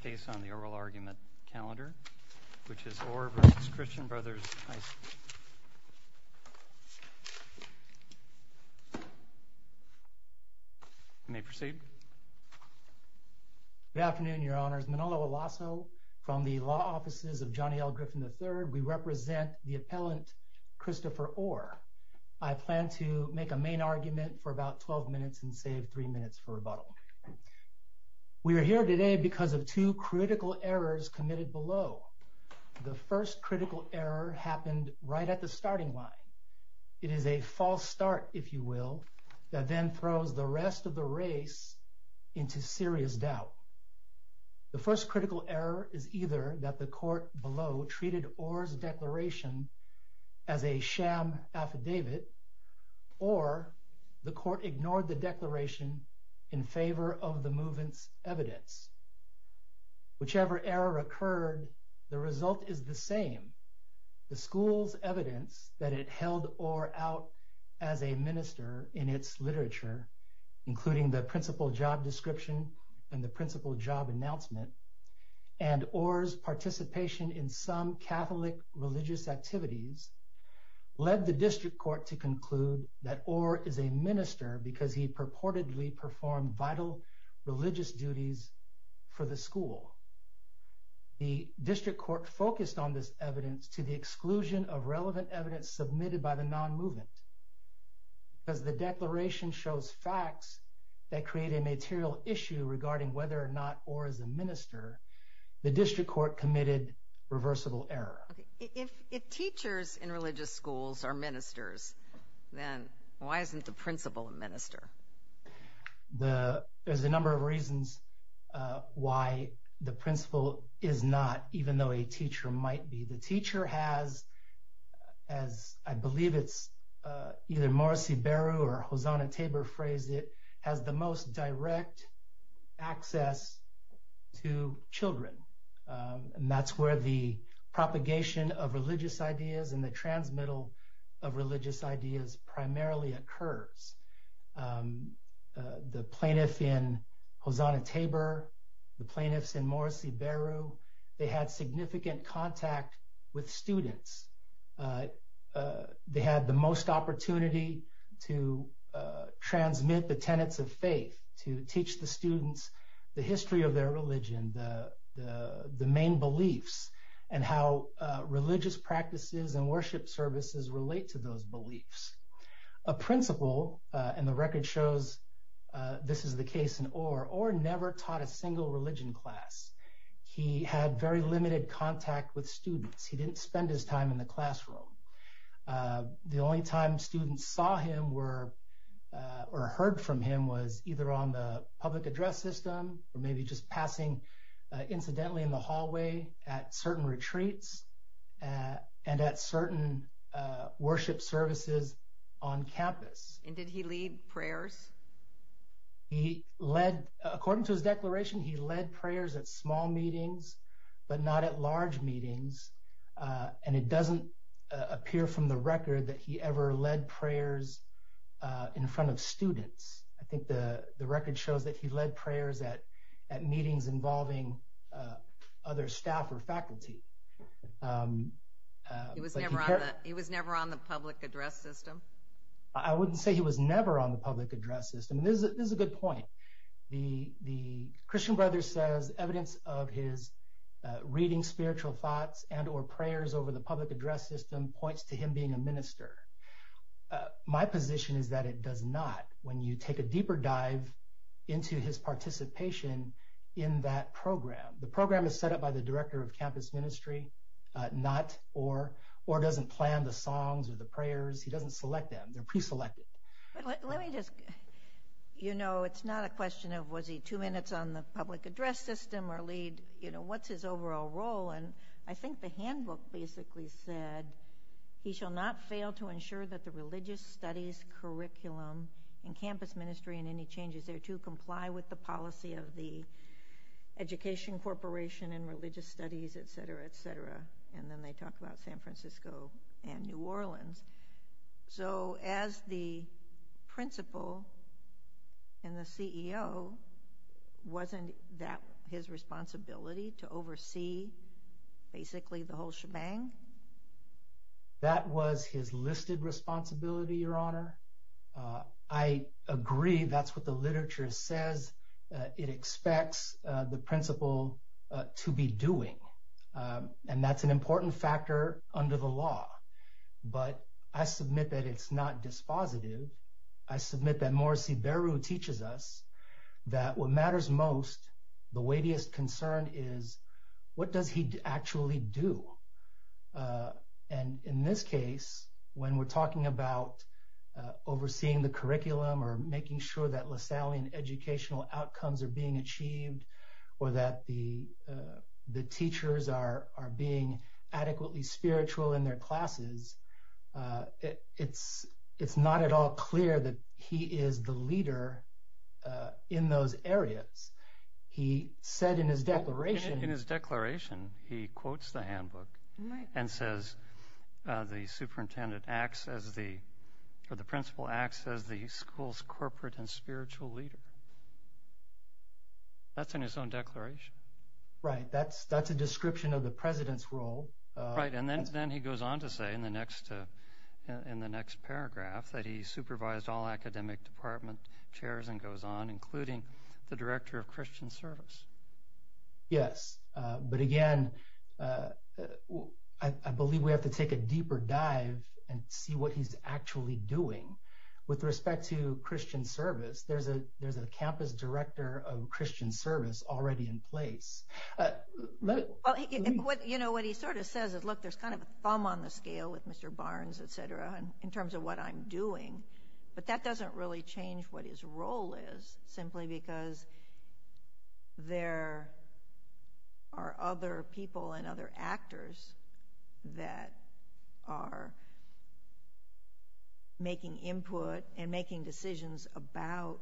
Good afternoon, Your Honors. Manolo Olasso from the Law Offices of Johnny L. Griffin III. We represent the appellant Christopher Orr. I plan to make a main argument for about 12 minutes and save three minutes for rebuttal. We are here today because of two critical errors committed below. The first critical error happened right at the starting line. It is a false start, if you will, that then throws the rest of the race into serious doubt. The first critical error is either that the court below treated Orr's declaration as a ignored the declaration in favor of the movement's evidence. Whichever error occurred, the result is the same. The school's evidence that it held Orr out as a minister in its literature, including the principal job description and the principal job announcement, and Orr's participation in some Catholic religious activities, led the district court to conclude that Orr is a minister because he purportedly performed vital religious duties for the school. The district court focused on this evidence to the exclusion of relevant evidence submitted by the non-movement. As the declaration shows facts that create a material issue regarding whether or not Orr is a minister, the district court committed reversible error. If teachers in religious schools are ministers, then why isn't the principal a minister? There's a number of reasons why the principal is not, even though a teacher might be. The teacher has, as I believe it's either Morris Iberu or Hosanna Tabor phrased it, has the most direct access to children. That's where the propagation of religious ideas and the transmittal of religious ideas primarily occurs. The plaintiff in Hosanna Tabor, the plaintiffs in Morris Iberu, they had significant contact with students. They had the most opportunity to transmit the tenets of faith, to teach the students the history of their religion, the main beliefs, and how religious practices and worship services relate to those beliefs. A principal, and the record shows this is the case in Orr, Orr never taught a single religion class. He had very limited contact with students. He didn't spend his time in the classroom. The only time students saw him were, or heard from him, was either on the public address system or maybe just passing incidentally in the hallway at certain retreats and at certain worship services on campus. And did he lead prayers? He led, according to his declaration, he led prayers at small meetings but not at large of students. I think the record shows that he led prayers at meetings involving other staff or faculty. He was never on the public address system? I wouldn't say he was never on the public address system. This is a good point. The Christian Brothers says evidence of his reading spiritual thoughts and or prayers over the public address system points to him being a minister. My position is that it does not when you take a deeper dive into his participation in that program. The program is set up by the director of campus ministry, not Orr. Orr doesn't plan the songs or the prayers. He doesn't select them. They're pre-selected. Let me just, you know, it's not a question of was he two minutes on the public address system or lead, you know, what's his overall role? And I think the handbook basically said he shall not fail to ensure that the religious studies curriculum and campus ministry and any changes there to comply with the policy of the education corporation and religious studies, etc, etc. And then they talk about San Francisco and New Orleans. So as the principal and the CEO, wasn't that his responsibility to oversee basically the whole shebang? That was his listed responsibility, your honor. I agree. That's what the literature says. It expects the principal to be doing. And that's an important factor under the law. But I submit that it's not dispositive. I submit that Morris teaches us that what matters most, the weightiest concern is what does he actually do? And in this case, when we're talking about overseeing the curriculum or making sure that Lasallian educational outcomes are being achieved, or that the teachers are being adequately spiritual in their classes, it's not at all clear that he is the leader in those areas. He said in his declaration... In his declaration, he quotes the handbook and says, the superintendent acts as the, or the principal acts as the school's corporate and spiritual leader. That's in his own declaration. Right. That's a description of the president's role. Right. And then he goes on to say in the next, in the next paragraph that he supervised all academic department chairs and goes on, including the director of Christian service. Yes. But again, I believe we have to take a deeper dive and see what he's actually doing with respect to Christian service. There's a campus director of Christian service already in place. Well, you know, what he sort of says is, look, there's kind of a thumb on the scale with Mr. Barnes, et cetera, in terms of what I'm doing, but that doesn't really change what his role is simply because there are other people and other actors that are making input and making decisions about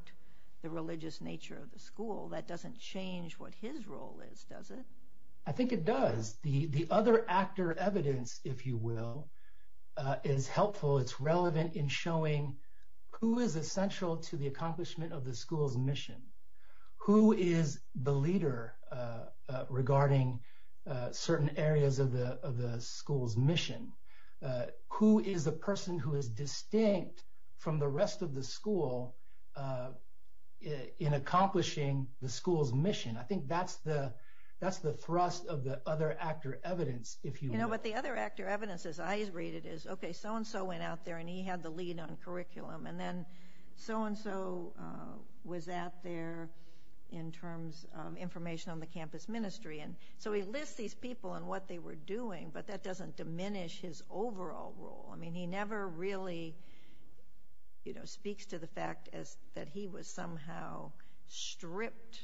the religious nature of the school. That doesn't change what his role is, does it? I think it does. The other actor evidence, if you will, is helpful. It's relevant in showing who is essential to the accomplishment of the school's mission. Who is the leader regarding certain areas of the school's mission? Who is the person who is distinct from the rest of the school in accomplishing the school's mission? I think that's the, that's the thrust of the other actor evidence, if you will. You know, what the other actor evidence, as I read it, is, okay, so-and-so went out there and he had the lead on curriculum and then so-and-so was out there in terms of information on the campus ministry. And so he lists these people and what they were doing, but that doesn't diminish his overall role. I mean, he never really, you know, speaks to the fact as that he was somehow stripped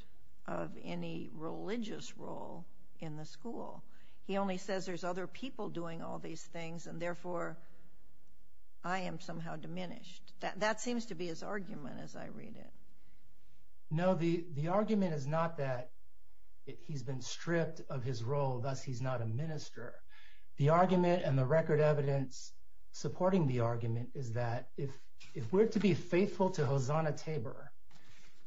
of any religious role in the school. He only says there's other people doing all these things and therefore I am somehow diminished. That seems to be his argument as I read it. No, the argument is not that he's been stripped of his role, thus he's not a minister. The argument and the record evidence supporting the argument is that if we're to be faithful to Hosanna Tabor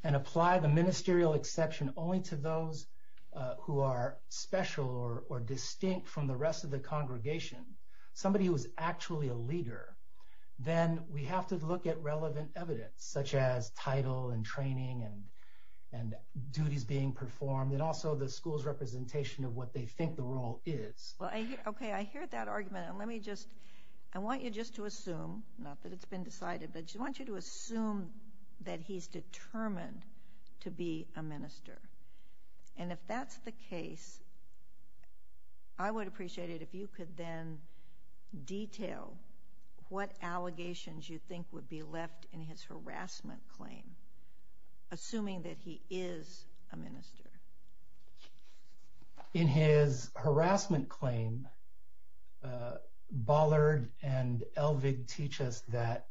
and apply the ministerial exception only to those who are special or distinct from the rest of the congregation, somebody who is actually a leader, then we have to look at relevant evidence such as title and training and duties being performed and also the school's representation of what they think the role is. Well, I hear, okay, I hear that argument and let me just, I want you just to assume, not that it's been decided, but I want you to assume that he's determined to be a minister. And if that's the case, I would appreciate it if you could then detail what allegations you think would be left in his harassment claim, assuming that he is a minister. In his harassment claim, Ballard and Elvig teach us that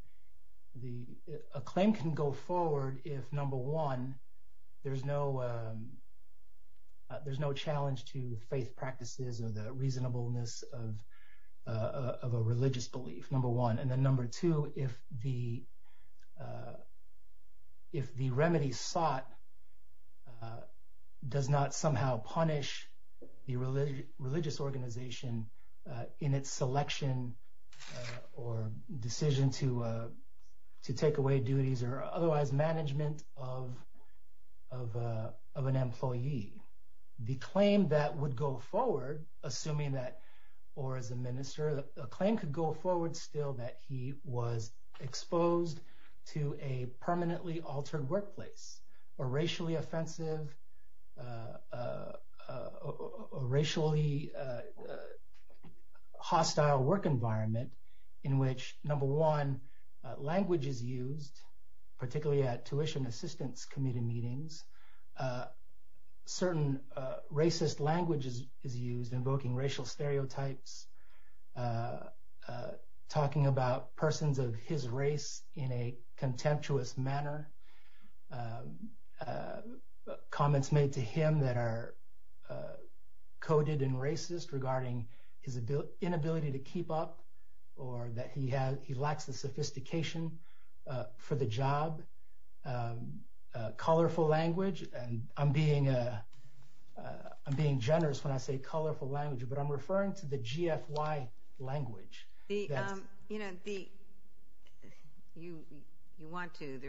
a claim can go forward if, number one, there's no challenge to faith practices and the reasonableness of a religious belief, number one. And then number two, if the remedy sought does not somehow punish the religious organization in its selection or decision to take away duties or otherwise management of an employee, the claim that would go forward, assuming that, or as a minister, a claim could go forward still that he was exposed to a permanently altered workplace or racially offensive, racially hostile work environment in which, number one, language is used, particularly at tuition assistance committee meetings. Certain racist languages is used, invoking racial stereotypes, talking about persons of his race in a contemptuous manner, comments made to him that are coded and racist regarding his inability to keep up or that he uses a colorful language and I'm being generous when I say colorful language, but I'm referring to the GFY language. You want to.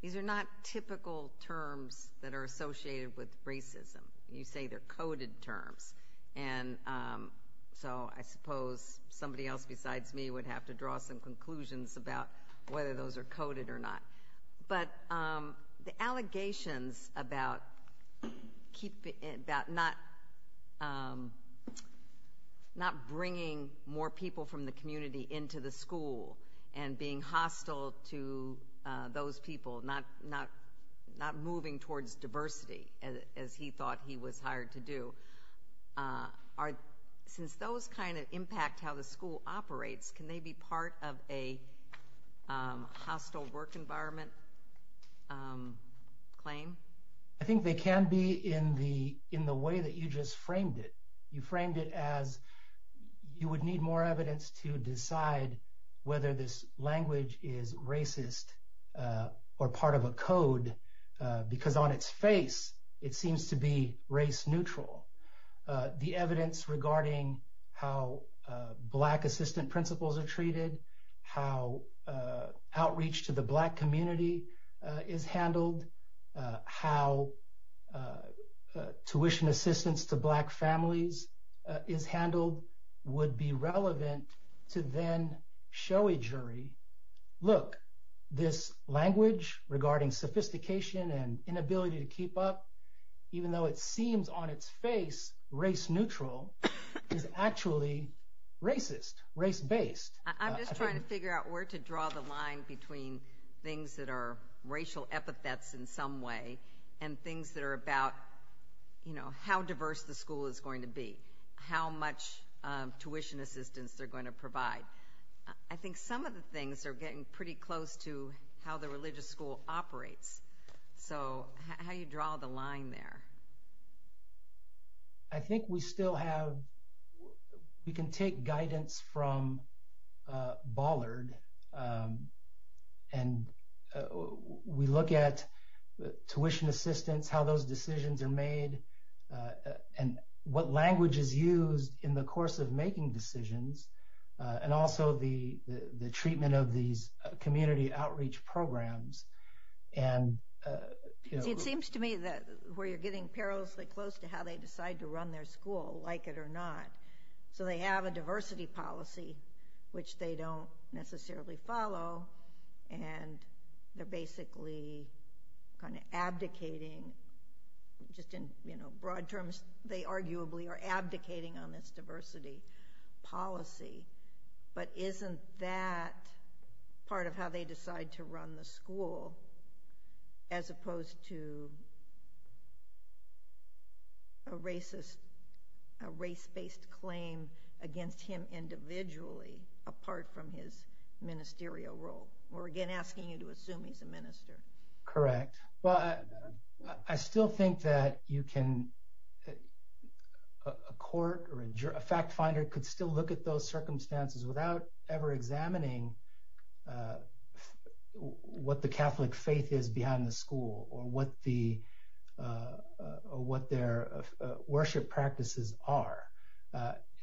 These are not typical terms that are associated with racism. You say they're coded terms and so I suppose somebody else besides me would have to draw some conclusions about whether those are coded or not, but the allegations about not bringing more people from the community into the school and being hostile to those people, not moving towards diversity as he thought he was hired to do, since those kind of impact how the school operates, can they be part of a hostile work environment claim? I think they can be in the way that you just framed it. You framed it as you would need more evidence to decide whether this language is racist or part of a code because on its face it seems to be neutral. The evidence regarding how black assistant principals are treated, how outreach to the black community is handled, how tuition assistance to black families is handled would be relevant to then show a jury, look, this language regarding sophistication and ability to keep up, even though it seems on its face race neutral, is actually racist, race-based. I'm just trying to figure out where to draw the line between things that are racial epithets in some way and things that are about how diverse the school is going to be, how much tuition assistance they're going to provide. I think some of the things are getting pretty close to how the religious school operates, so how do you draw the line there? I think we still have, we can take guidance from Ballard and we look at tuition assistance, how those decisions are made, and what language is used in the course of making decisions, and also the treatment of these community outreach programs. It seems to me that where you're getting perilously close to how they decide to run their school, like it or not, so they have a diversity policy which they don't necessarily follow and they're basically kind of abdicating, just in broad terms, they arguably are abdicating on this diversity policy, but isn't that part of how they decide to run the school, as opposed to a racist, a race-based claim against him individually, apart from his ministerial role? We're again asking you to assume he's a minister. Correct. Well, I still think that you can, a court or a fact finder could still look at those circumstances without ever examining what the Catholic faith is behind the school or what their worship practices are.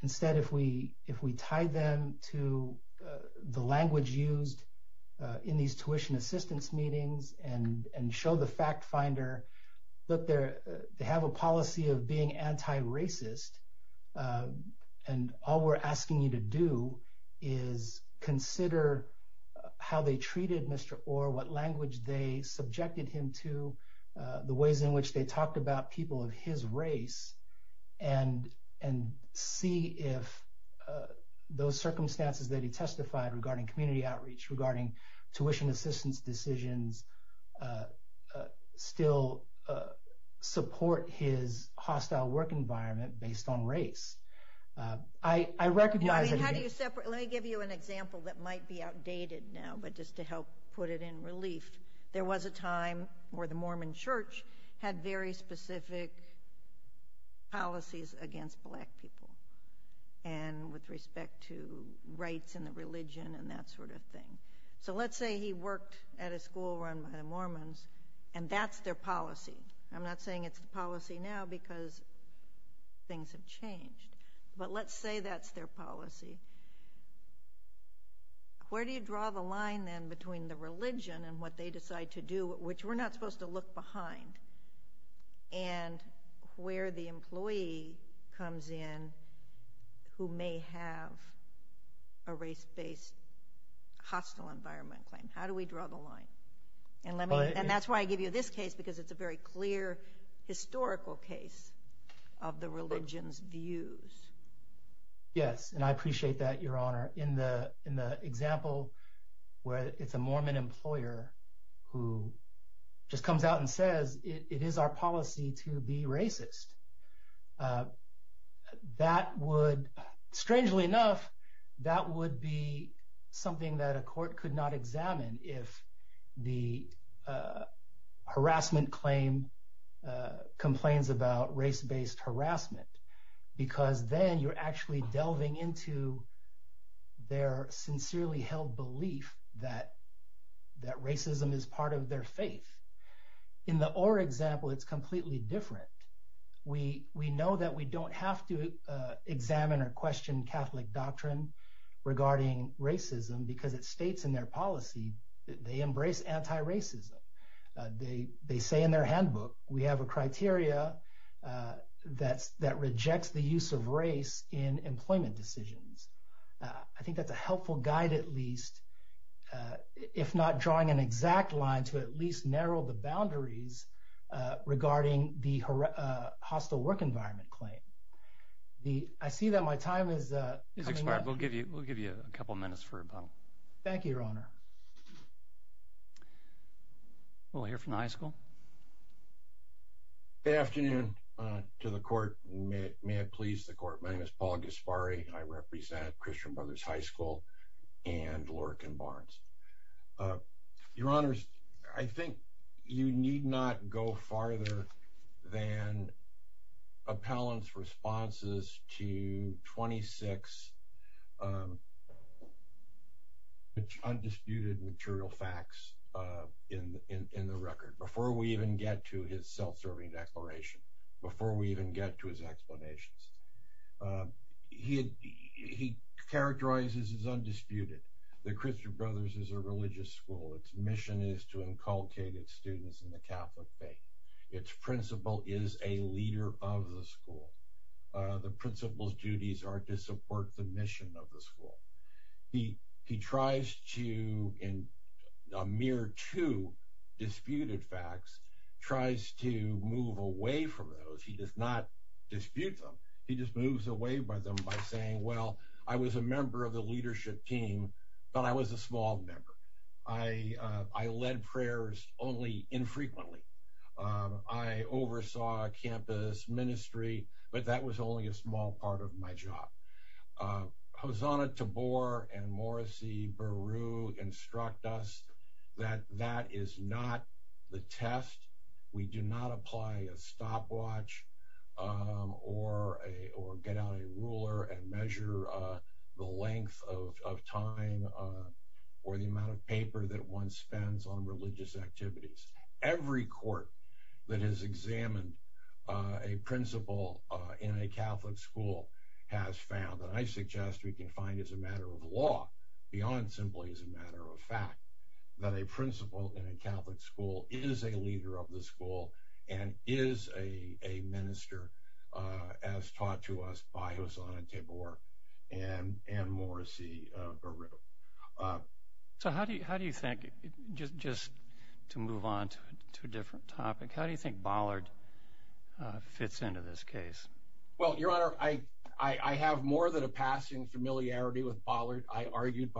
Instead, if we tie them to the language used in these tuition assistance meetings and show the fact finder, look, they have a policy of being anti-racist, and all we're asking you to do is consider how they treated Mr. Orr, what language they subjected him to, the ways in which they talked about people of his race, and see if those circumstances that he testified regarding community outreach, regarding tuition assistance decisions, still support his hostile work environment based on race. Let me give you an example that might be outdated now, but just to help put it in relief. There was a time where the Mormon church had very specific policies against black people, and with respect to rights and the religion and that sort of thing. So let's say he worked at a school run by the Mormons, and that's their policy. I'm not saying it's a policy now because things have changed, but let's say that's their policy. Where do you draw the line then between the religion and what they decide to do, which we're not supposed to look behind, and where the employee comes in who may have a race-based hostile environment claim? How do we draw the line? And that's why I give you this case because it's a very clear historical case of the religion's views. Yes, and I appreciate that, Your Honor. In the example where it's a Mormon employer who just comes out and says, it is our policy to be racist. That would, strangely enough, that would be something that a court could not examine if the harassment claim complains about race-based harassment, because then you're actually delving into their sincerely held belief that racism is part of their faith. In the Orr example, it's completely different. We know that we don't have to examine or question Catholic doctrine regarding racism because it states in their policy that they reject the use of race in employment decisions. I think that's a helpful guide, at least, if not drawing an exact line to at least narrow the boundaries regarding the hostile work environment claim. I see that my time is coming up. We'll give you a couple minutes for a moment. Thank you, Your Honor. We'll hear from the high school. Good afternoon to the court. May it please the court. My name is Paul Gasparri. I represent Christian Brothers High School and Lurken Barnes. Your Honors, I think you need not go farther than appellant's responses to 26 undisputed material facts in the record, before we even get to his self-serving declaration, before we even get to his explanations. He characterizes as undisputed that Christian Brothers is a religious school. Its mission is to inculcate its students in the Catholic faith. Its principal is a leader of the school. The principal's duties are to support the mission of the school. He tries to, in a mere two disputed facts, tries to move away from those. He does not dispute them. He just moves away by them by saying, well, I was a member of the leadership team, but I was a small member. I led prayers only infrequently. I oversaw campus ministry, but that was only a small part of my job. Hosanna Tabor and Morrissey Beru instruct us that that is not the test. We do not apply a stopwatch or get out a ruler and measure the length of time or the amount of paper that one spends on religious activities. Every court that has examined a principal in a Catholic school has found, and I suggest we can find as a matter of law, beyond simply as a matter of fact, that a principal in a Catholic school is a leader of the school and is a minister as taught to us by Hosanna Tabor and Morrissey Beru. So how do you think, just to move on to a different topic, how do you think Bollard fits into this case? Well, Your Honor, I have more than a passing familiarity with Bollard. I argued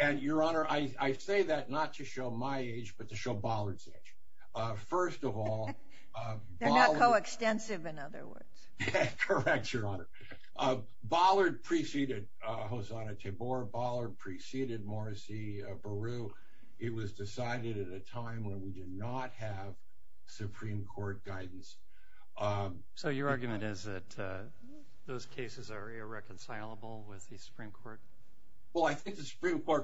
and Your Honor, I say that not to show my age, but to show Bollard's age. First of all, they're not coextensive in other words. Correct, Your Honor. Bollard preceded Hosanna Tabor. Bollard preceded Morrissey Beru. It was decided at a time when we did not have Supreme Court guidance. So your argument is that those cases are irreconcilable with the Supreme Court.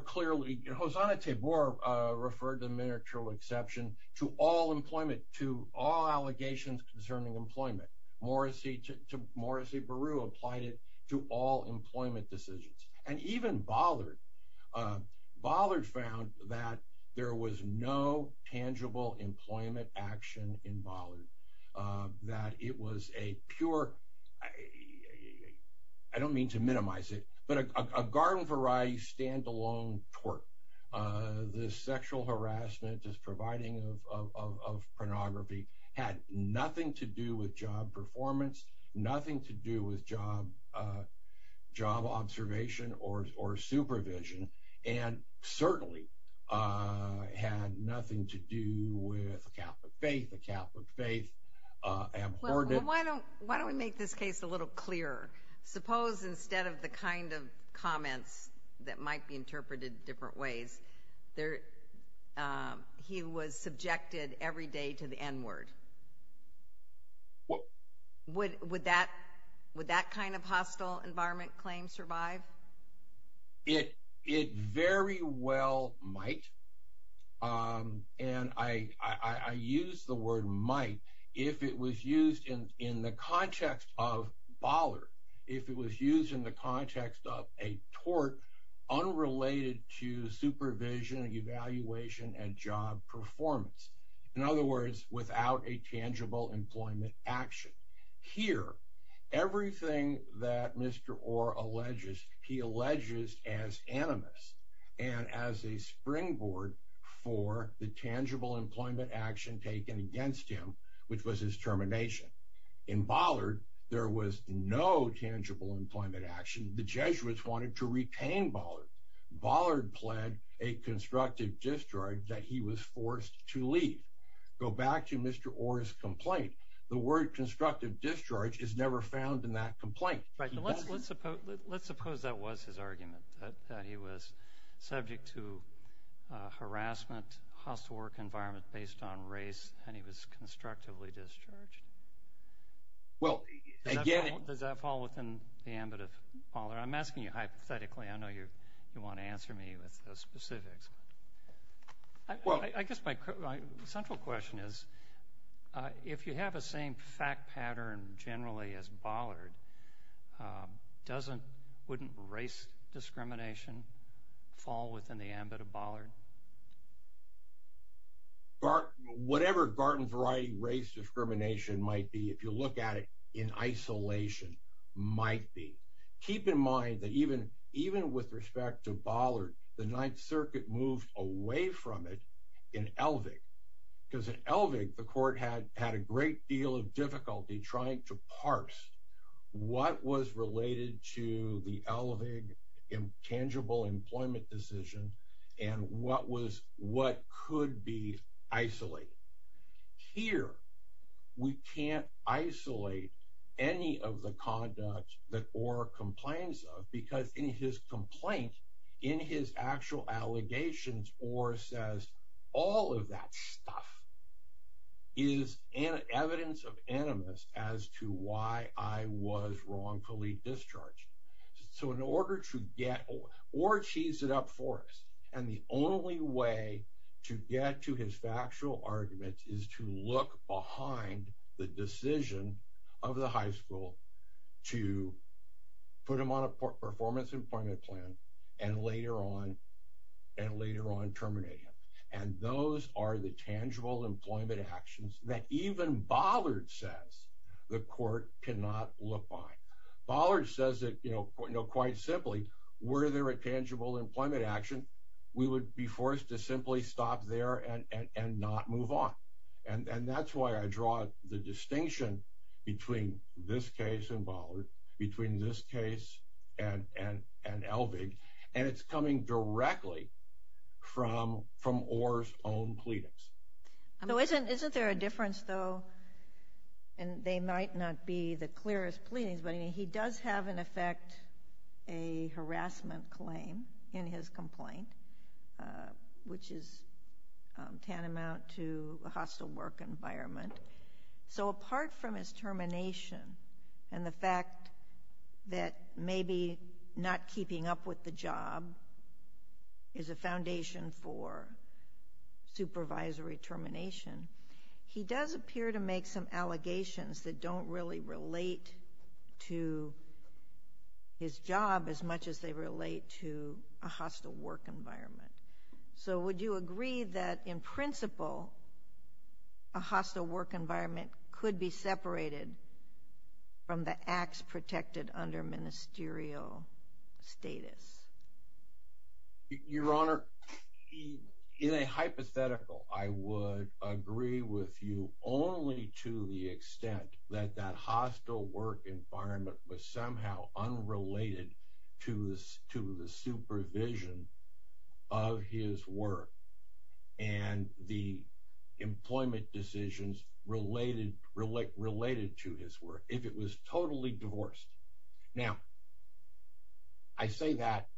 Clearly, Hosanna Tabor referred the miniature exception to all employment, to all allegations concerning employment. Morrissey Beru applied it to all employment decisions. And even Bollard, Bollard found that there was no tangible employment action in Bollard, that it was a pure, I don't mean to minimize it, but a garden variety standalone tort. This sexual harassment, this providing of pornography had nothing to do with job performance, nothing to do with job observation or supervision, and certainly had nothing to do with faith, the Catholic faith, abhorrence. Well, why don't we make this case a little clearer? Suppose instead of the kind of comments that might be interpreted different ways, he was subjected every day to the N-word. Would that kind of hostile environment claim survive? It very well might. And I use the word might if it was used in the context of Bollard, if it was used in the context of a tort unrelated to supervision and evaluation and job performance. In other words, without a tangible employment action. Here, everything that Mr. Orr alleges as animus and as a springboard for the tangible employment action taken against him, which was his termination. In Bollard, there was no tangible employment action. The Jesuits wanted to retain Bollard. Bollard pled a constructive discharge that he was forced to leave. Go back to Mr. Orr's complaint. The word constructive discharge is never found in that argument. That he was subject to harassment, hostile work environment based on race, and he was constructively discharged. Does that fall within the ambit of Bollard? I'm asking you hypothetically. I know you want to answer me with the specifics. I guess my central question is, if you have the same fact pattern generally as Bollard, doesn't, wouldn't race discrimination fall within the ambit of Bollard? Whatever Barton variety race discrimination might be, if you look at it in isolation, might be. Keep in mind that even with respect to Bollard, the Ninth Circuit moved away from it in Elvig. Because in Elvig, the court had a great deal of difficulty trying to parse what was related to the Elvig tangible employment decision and what was, what could be isolated. Here, we can't isolate any of the conduct that Orr complains of because in his complaint, in his actual allegations, Orr says, all of that stuff is evidence of animus as to why I was wrongfully discharged. So in order to get, Orr tees it up for us, and the only way to get to his factual argument is to look behind the decision of the high school to put him on a performance employment plan, and later on, and later on terminated. And those are the tangible employment actions that even Bollard says, the court cannot look by. Bollard says that, you know, quite simply, were there a tangible employment action, we would be forced to simply stop there and not move on. And that's why I draw the distinction between this case in Bollard, between this case and Elvig, and it's coming directly from Orr's own pleadings. So isn't there a difference though, and they might not be the clearest pleadings, but he does have in effect a harassment claim in his complaint, which is that maybe not keeping up with the job is a foundation for supervisory termination. He does appear to make some allegations that don't really relate to his job as much as they relate to a hostile work environment. So would you agree that in principle, a hostile work environment could be separated from the acts protected under ministerial status? Your Honor, in a hypothetical, I would agree with you only to the extent that that hostile work environment was somehow unrelated to the supervision of his work and the employment decisions related to his work, if it was totally divorced. Now, I say that,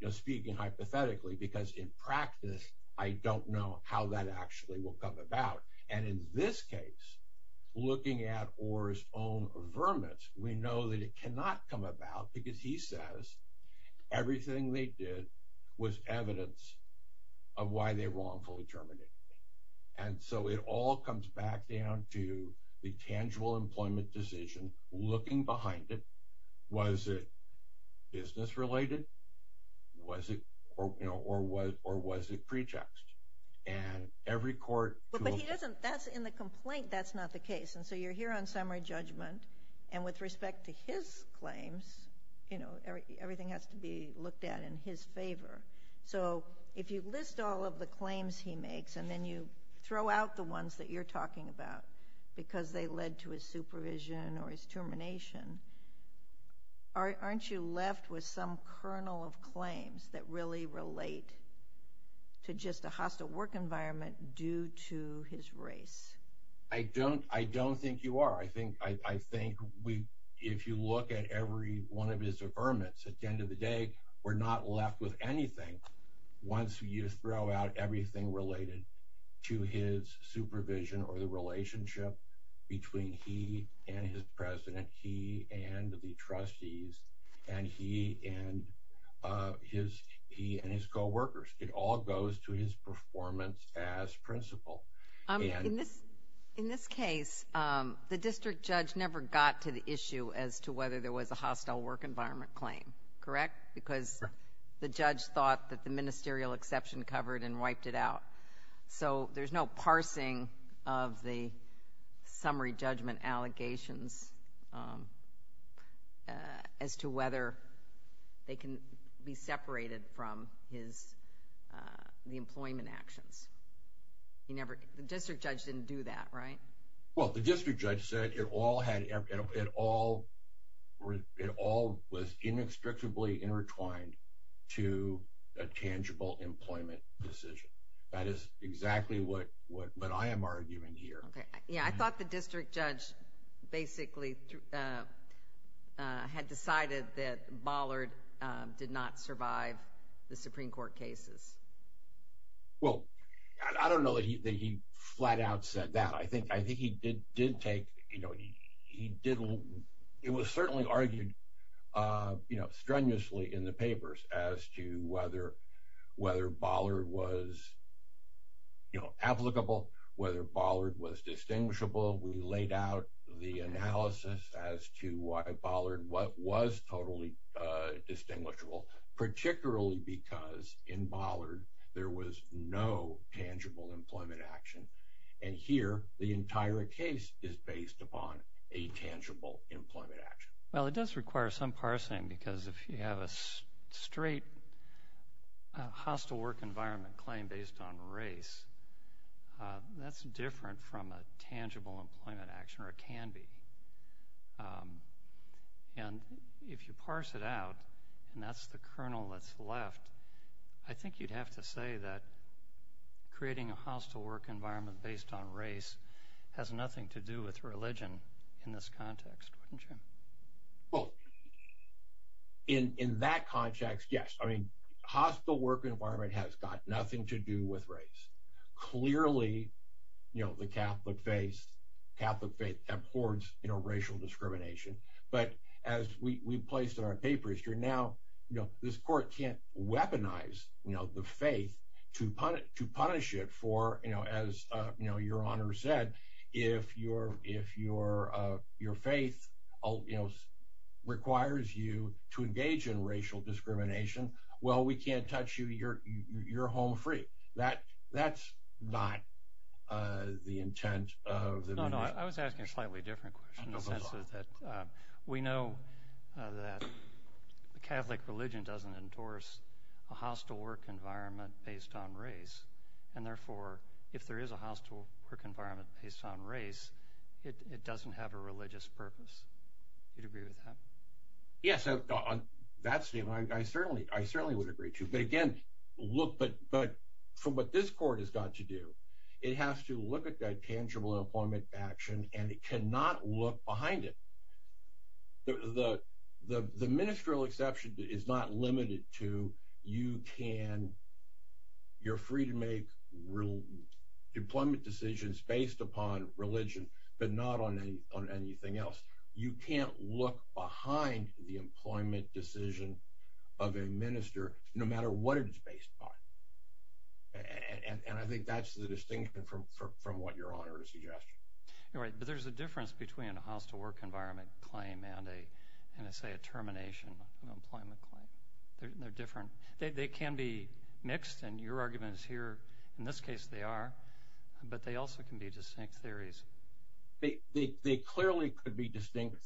you know, speaking hypothetically, because in practice, I don't know how that actually will come about. And in this case, looking at Orr's own vermin, we know that it cannot come about because he says everything they did was evidence of why they wrongfully terminated him. And so it all comes back down to the tangible employment decision, looking behind it, was it business-related, was it, you know, or was it pretext? And every court... But he doesn't, that's in the complaint, that's not the case. And so you're here on summary claims, you know, everything has to be looked at in his favor. So if you list all of the claims he makes, and then you throw out the ones that you're talking about, because they led to his supervision or his termination, aren't you left with some kernel of claims that really relate to just a hostile work environment due to his race? I don't think you are. I think if you look at every one of his vermin, at the end of the day, we're not left with anything. Once you throw out everything related to his supervision or the relationship between he and his president, he and the trustees, and he and his co-workers, it all goes to his performance as principal. In this case, the district judge never got to the issue as to whether there was a hostile work environment claim, correct? Because the judge thought that the ministerial exception covered and wiped it out. So there's no parsing of the summary judgment allegations as to whether they can be separated from the employment actions. The district judge didn't do that, right? Well, the district judge said it all was inextricably intertwined to a tangible employment decision. That is exactly what I am arguing here. Yeah, I thought the district judge basically had decided that Bollard did not survive the Supreme Court cases. Well, I don't know that he flat out said that. I think he did take, you know, he did, it was certainly argued strenuously in the papers as to whether Bollard was you know, applicable, whether Bollard was distinguishable. We laid out the analysis as to why Bollard was totally distinguishable, particularly because in Bollard there was no tangible employment action. And here, the entire case is based upon a tangible employment action. Well, it does require some parsing because if you have a straight hostile work environment claim based on race, that's different from a tangible employment action or it can be. And if you parse it out, and that's the kernel that's left, I think you'd have to say that creating a hostile work environment based on race has nothing to do with religion in this context, wouldn't you? Well, in that context, yes. I mean, with race. Clearly, you know, the Catholic faith abhors, you know, racial discrimination. But as we placed in our papers, you're now, you know, this court can't weaponize, you know, the faith to punish it for, you know, as, you know, your honor said, if your faith, you know, that's not the intent of the. No, no. I was asking a slightly different question in the sense of that we know that the Catholic religion doesn't endorse a hostile work environment based on race. And therefore, if there is a hostile work environment based on race, it doesn't have a religious purpose. You'd agree with that? Yes. On that statement, I certainly would agree too. But again, look, but from what this court has got to do, it has to look at that tangible employment action, and it cannot look behind it. The ministerial exception is not limited to you can, you're free to make real employment decisions based upon religion, but not on anything else. You can't look behind the employment decision of a minister, no matter what it's based on. And I think that's the distinction from what your honor is suggesting. You're right. But there's a difference between a hostile work environment claim and a, and I say a termination and employment claim. They're different. They can be mixed and your argument is here. In this case, they are, but they also can be distinct theories. They clearly could be distinct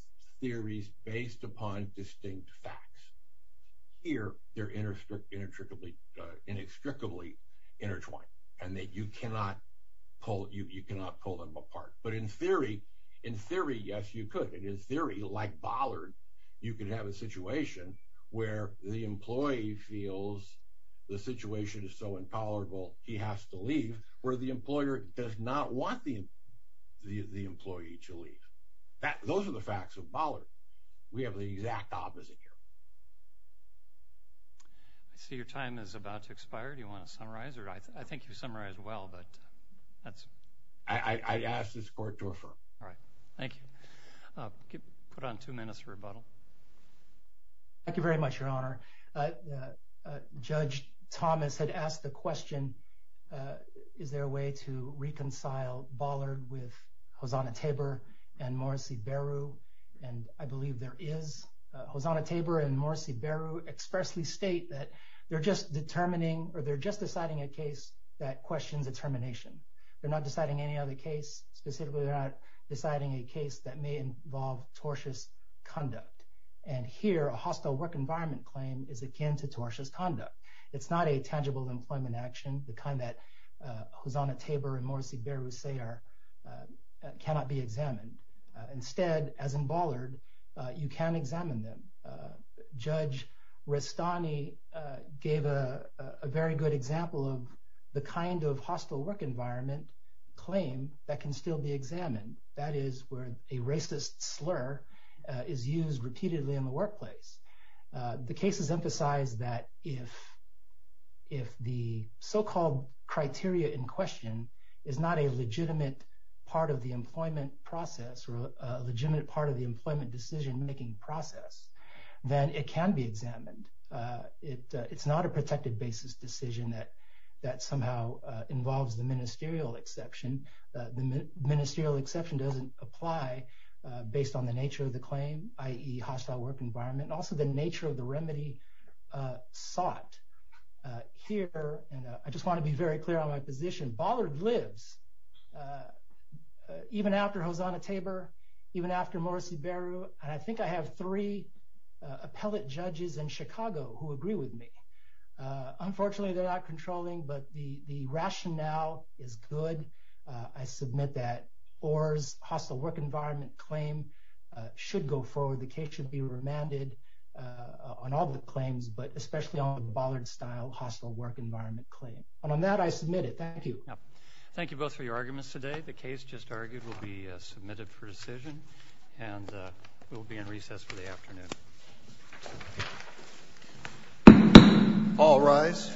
theories based upon distinct facts. Here, they're inextricably intertwined, and that you cannot pull them apart. But in theory, in theory, yes, you could. In theory, like Bollard, you can have a situation where the employee feels the situation is so intolerable, he has to leave, where the employer does not want the employee to leave. Those are the facts of Bollard. We have the exact opposite here. So your time is about to expire. Do you want to summarize? Or I think you've summarized well, but that's. I asked this court to affirm. All right. Thank you. Put on two minutes for rebuttal. Thank you very much, your honor. Judge Thomas had asked the question, is there a way to reconcile Bollard with Hosanna Tabor and Morrissey Beru? And I believe there is. Hosanna Tabor and Morrissey Beru expressly state that they're just determining, or they're just deciding a case that questions a termination. They're not deciding any other case, specifically they're not deciding a case that may involve tortious conduct. And here, a hostile work environment claim is akin to tortious conduct. It's not a tangible employment action, the kind that Hosanna Tabor and Morrissey Beru say cannot be examined. Instead, as in Bollard, you can examine them. Judge Restani gave a very good example of the kind of hostile work claim that can still be examined. That is where a racist slur is used repeatedly in the workplace. The cases emphasize that if the so-called criteria in question is not a legitimate part of the employment process or a legitimate part of the employment decision-making process, then it can be examined. It's not a protected basis decision that somehow involves the exception. The ministerial exception doesn't apply based on the nature of the claim, i.e. hostile work environment, and also the nature of the remedy sought. Here, and I just want to be very clear on my position, Bollard lives even after Hosanna Tabor, even after Morrissey Beru, and I think I have three appellate judges in Chicago who agree with me. Unfortunately, they're not controlling, but the rationale is good. I submit that Orr's hostile work environment claim should go forward. The case should be remanded on all the claims, but especially on the Bollard-style hostile work environment claim. On that, I submit it. Thank you. Thank you both for your arguments today. The case just argued will be submitted for decision, and we'll be in recess for the afternoon. All rise.